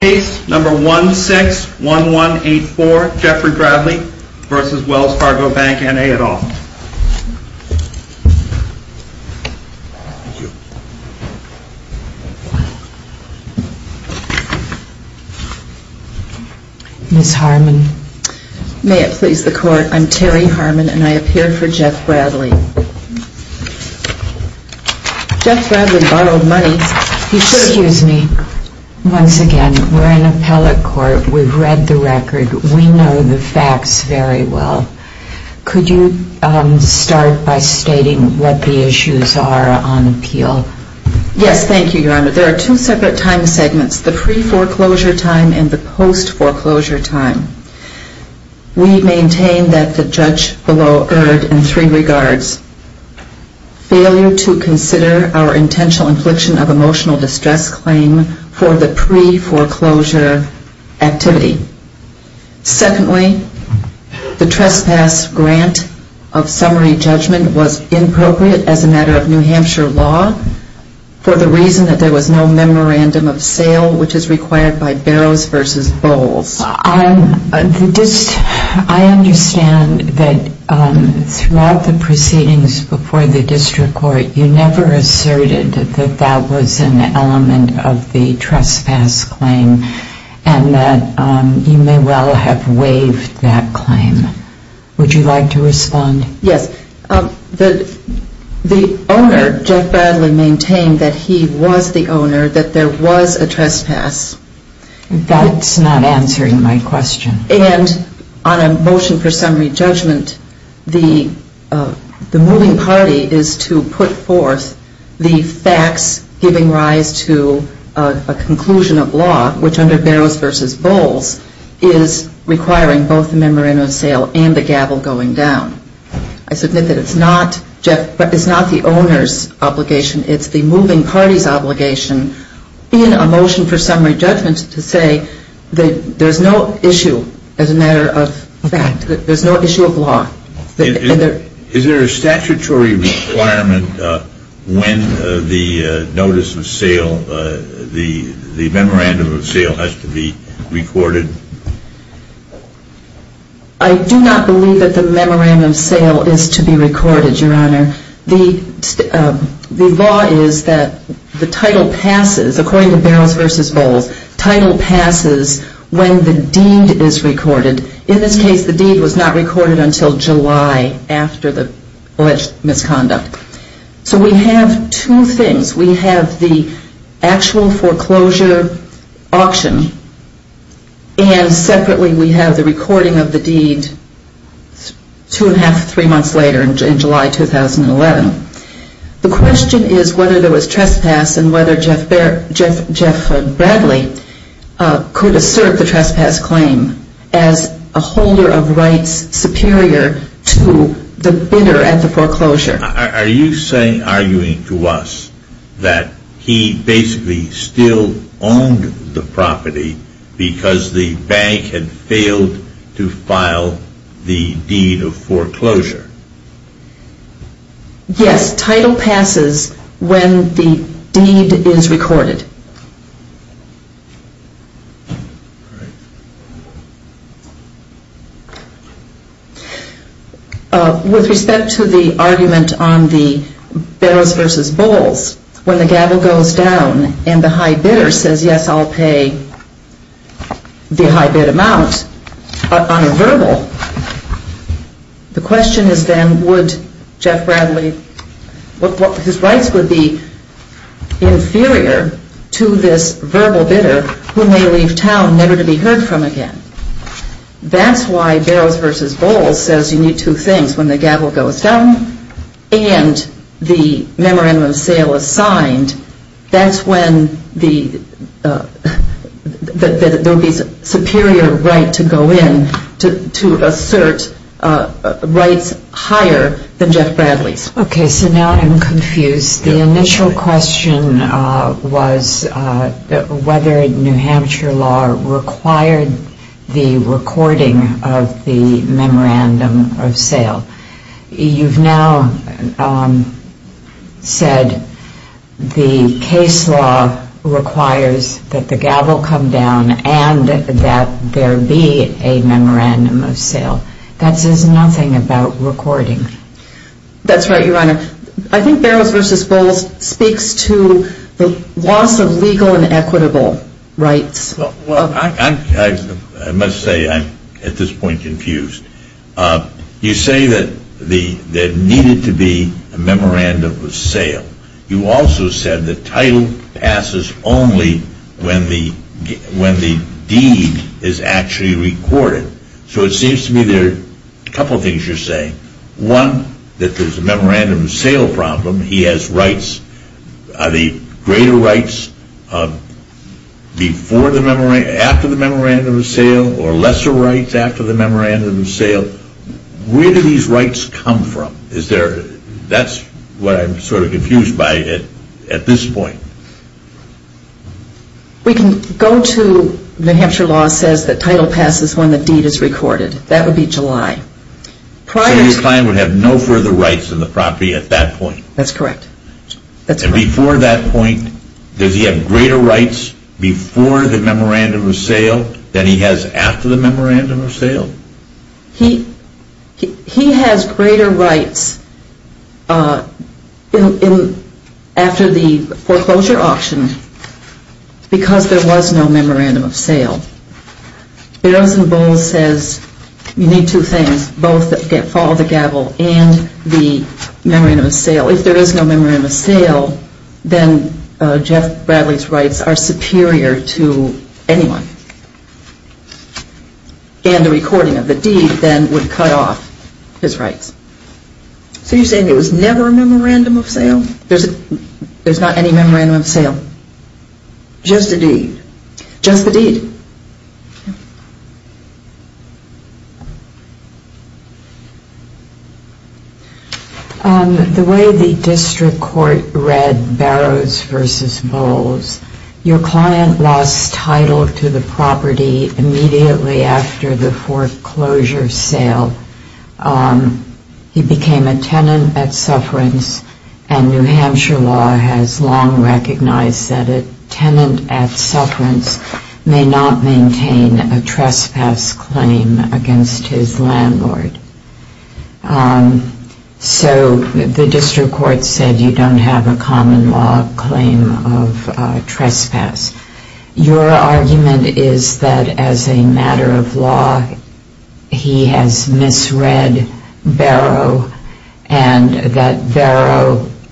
Case number 161184, Jeffrey Bradley v. Wells Fargo Bank, N.A. et al. Ms. Harmon. May it please the court, I'm Terry Harmon and I appear for Jeff Bradley. Jeff Bradley borrowed money. Excuse me. Once again, we're in appellate court. We've read the record. We know the facts very well. Could you start by stating what the issues are on appeal? Yes, thank you, Your Honor. There are two separate time segments, the pre-foreclosure time and the post-foreclosure time. We maintain that the judge below erred in three regards. Failure to consider our intentional infliction of emotional distress claim for the pre-foreclosure activity. Secondly, the trespass grant of summary judgment was inappropriate as a matter of New Hampshire law for the reason that there was no memorandum of sale which is required by Barrows v. Bowles. I understand that throughout the proceedings before the district court, you never asserted that that was an element of the trespass claim and that you may well have waived that claim. Would you like to respond? Yes. The owner, Jeff Bradley, maintained that he was the owner, that there was a trespass. That's not answering my question. And on a motion for summary judgment, the moving party is to put forth the facts giving rise to a conclusion of law which under Barrows v. Bowles is requiring both a memorandum of sale and a gavel going down. I submit that it's not the owner's obligation. It's the moving party's obligation in a motion for summary judgment to say that there's no issue as a matter of fact. There's no issue of law. Is there a statutory requirement when the notice of sale, the memorandum of sale has to be recorded? I do not believe that the memorandum of sale is to be recorded, Your Honor. The law is that the title passes, according to Barrows v. Bowles, title passes when the deed is recorded. In this case, the deed was not recorded until July after the alleged misconduct. So we have two things. We have the actual foreclosure auction and separately we have the recording of the deed two and a half, three months later in July 2011. The question is whether there was trespass and whether Jeff Bradley could assert the trespass claim as a holder of rights superior to the bidder at the foreclosure. Are you arguing to us that he basically still owned the property because the bank had failed to file the deed of foreclosure? Yes, title passes when the deed is recorded. With respect to the argument on the Barrows v. Bowles, when the gavel goes down and the high bidder says, yes, I'll pay the high bid amount on a verbal, the question is then would Jeff Bradley, his rights would be inferior to the high bid amount on a verbal? To this verbal bidder who may leave town never to be heard from again. That's why Barrows v. Bowles says you need two things. When the gavel goes down and the memorandum of sale is signed, that's when there would be superior right to go in to assert rights higher than Jeff Bradley's. Okay, so now I'm confused. The initial question was whether New Hampshire law required the recording of the memorandum of sale. You've now said the case law requires that the gavel come down and that there be a memorandum of sale. That says nothing about recording. That's right, Your Honor. I think Barrows v. Bowles speaks to the loss of legal and equitable rights. I must say I'm at this point confused. You say that there needed to be a memorandum of sale. You also said the title passes only when the deed is actually recorded. So it seems to me there are a couple of things you're saying. One, that there's a memorandum of sale problem. He has rights. Are they greater rights after the memorandum of sale or lesser rights after the memorandum of sale? Where do these rights come from? That's what I'm sort of confused by at this point. We can go to New Hampshire law says that title passes when the deed is recorded. That would be July. So your client would have no further rights on the property at that point? That's correct. And before that point, does he have greater rights before the memorandum of sale than he has after the memorandum of sale? He has greater rights after the foreclosure auction because there was no memorandum of sale. Barrows v. Bowles says you need two things, both follow the gavel and the memorandum of sale. Well, if there is no memorandum of sale, then Jeff Bradley's rights are superior to anyone. And the recording of the deed then would cut off his rights. So you're saying there was never a memorandum of sale? There's not any memorandum of sale. Just the deed. The way the district court read Barrows v. Bowles, your client lost title to the property immediately after the foreclosure sale. He became a tenant at Sufferance and New Hampshire law has long recognized that a tenant at Sufferance may not maintain a trespass claim against his landlord. So the district court said you don't have a common law claim of trespass. Your argument is that as a matter of law, he has misread Barrow and that Barrow is a tenant.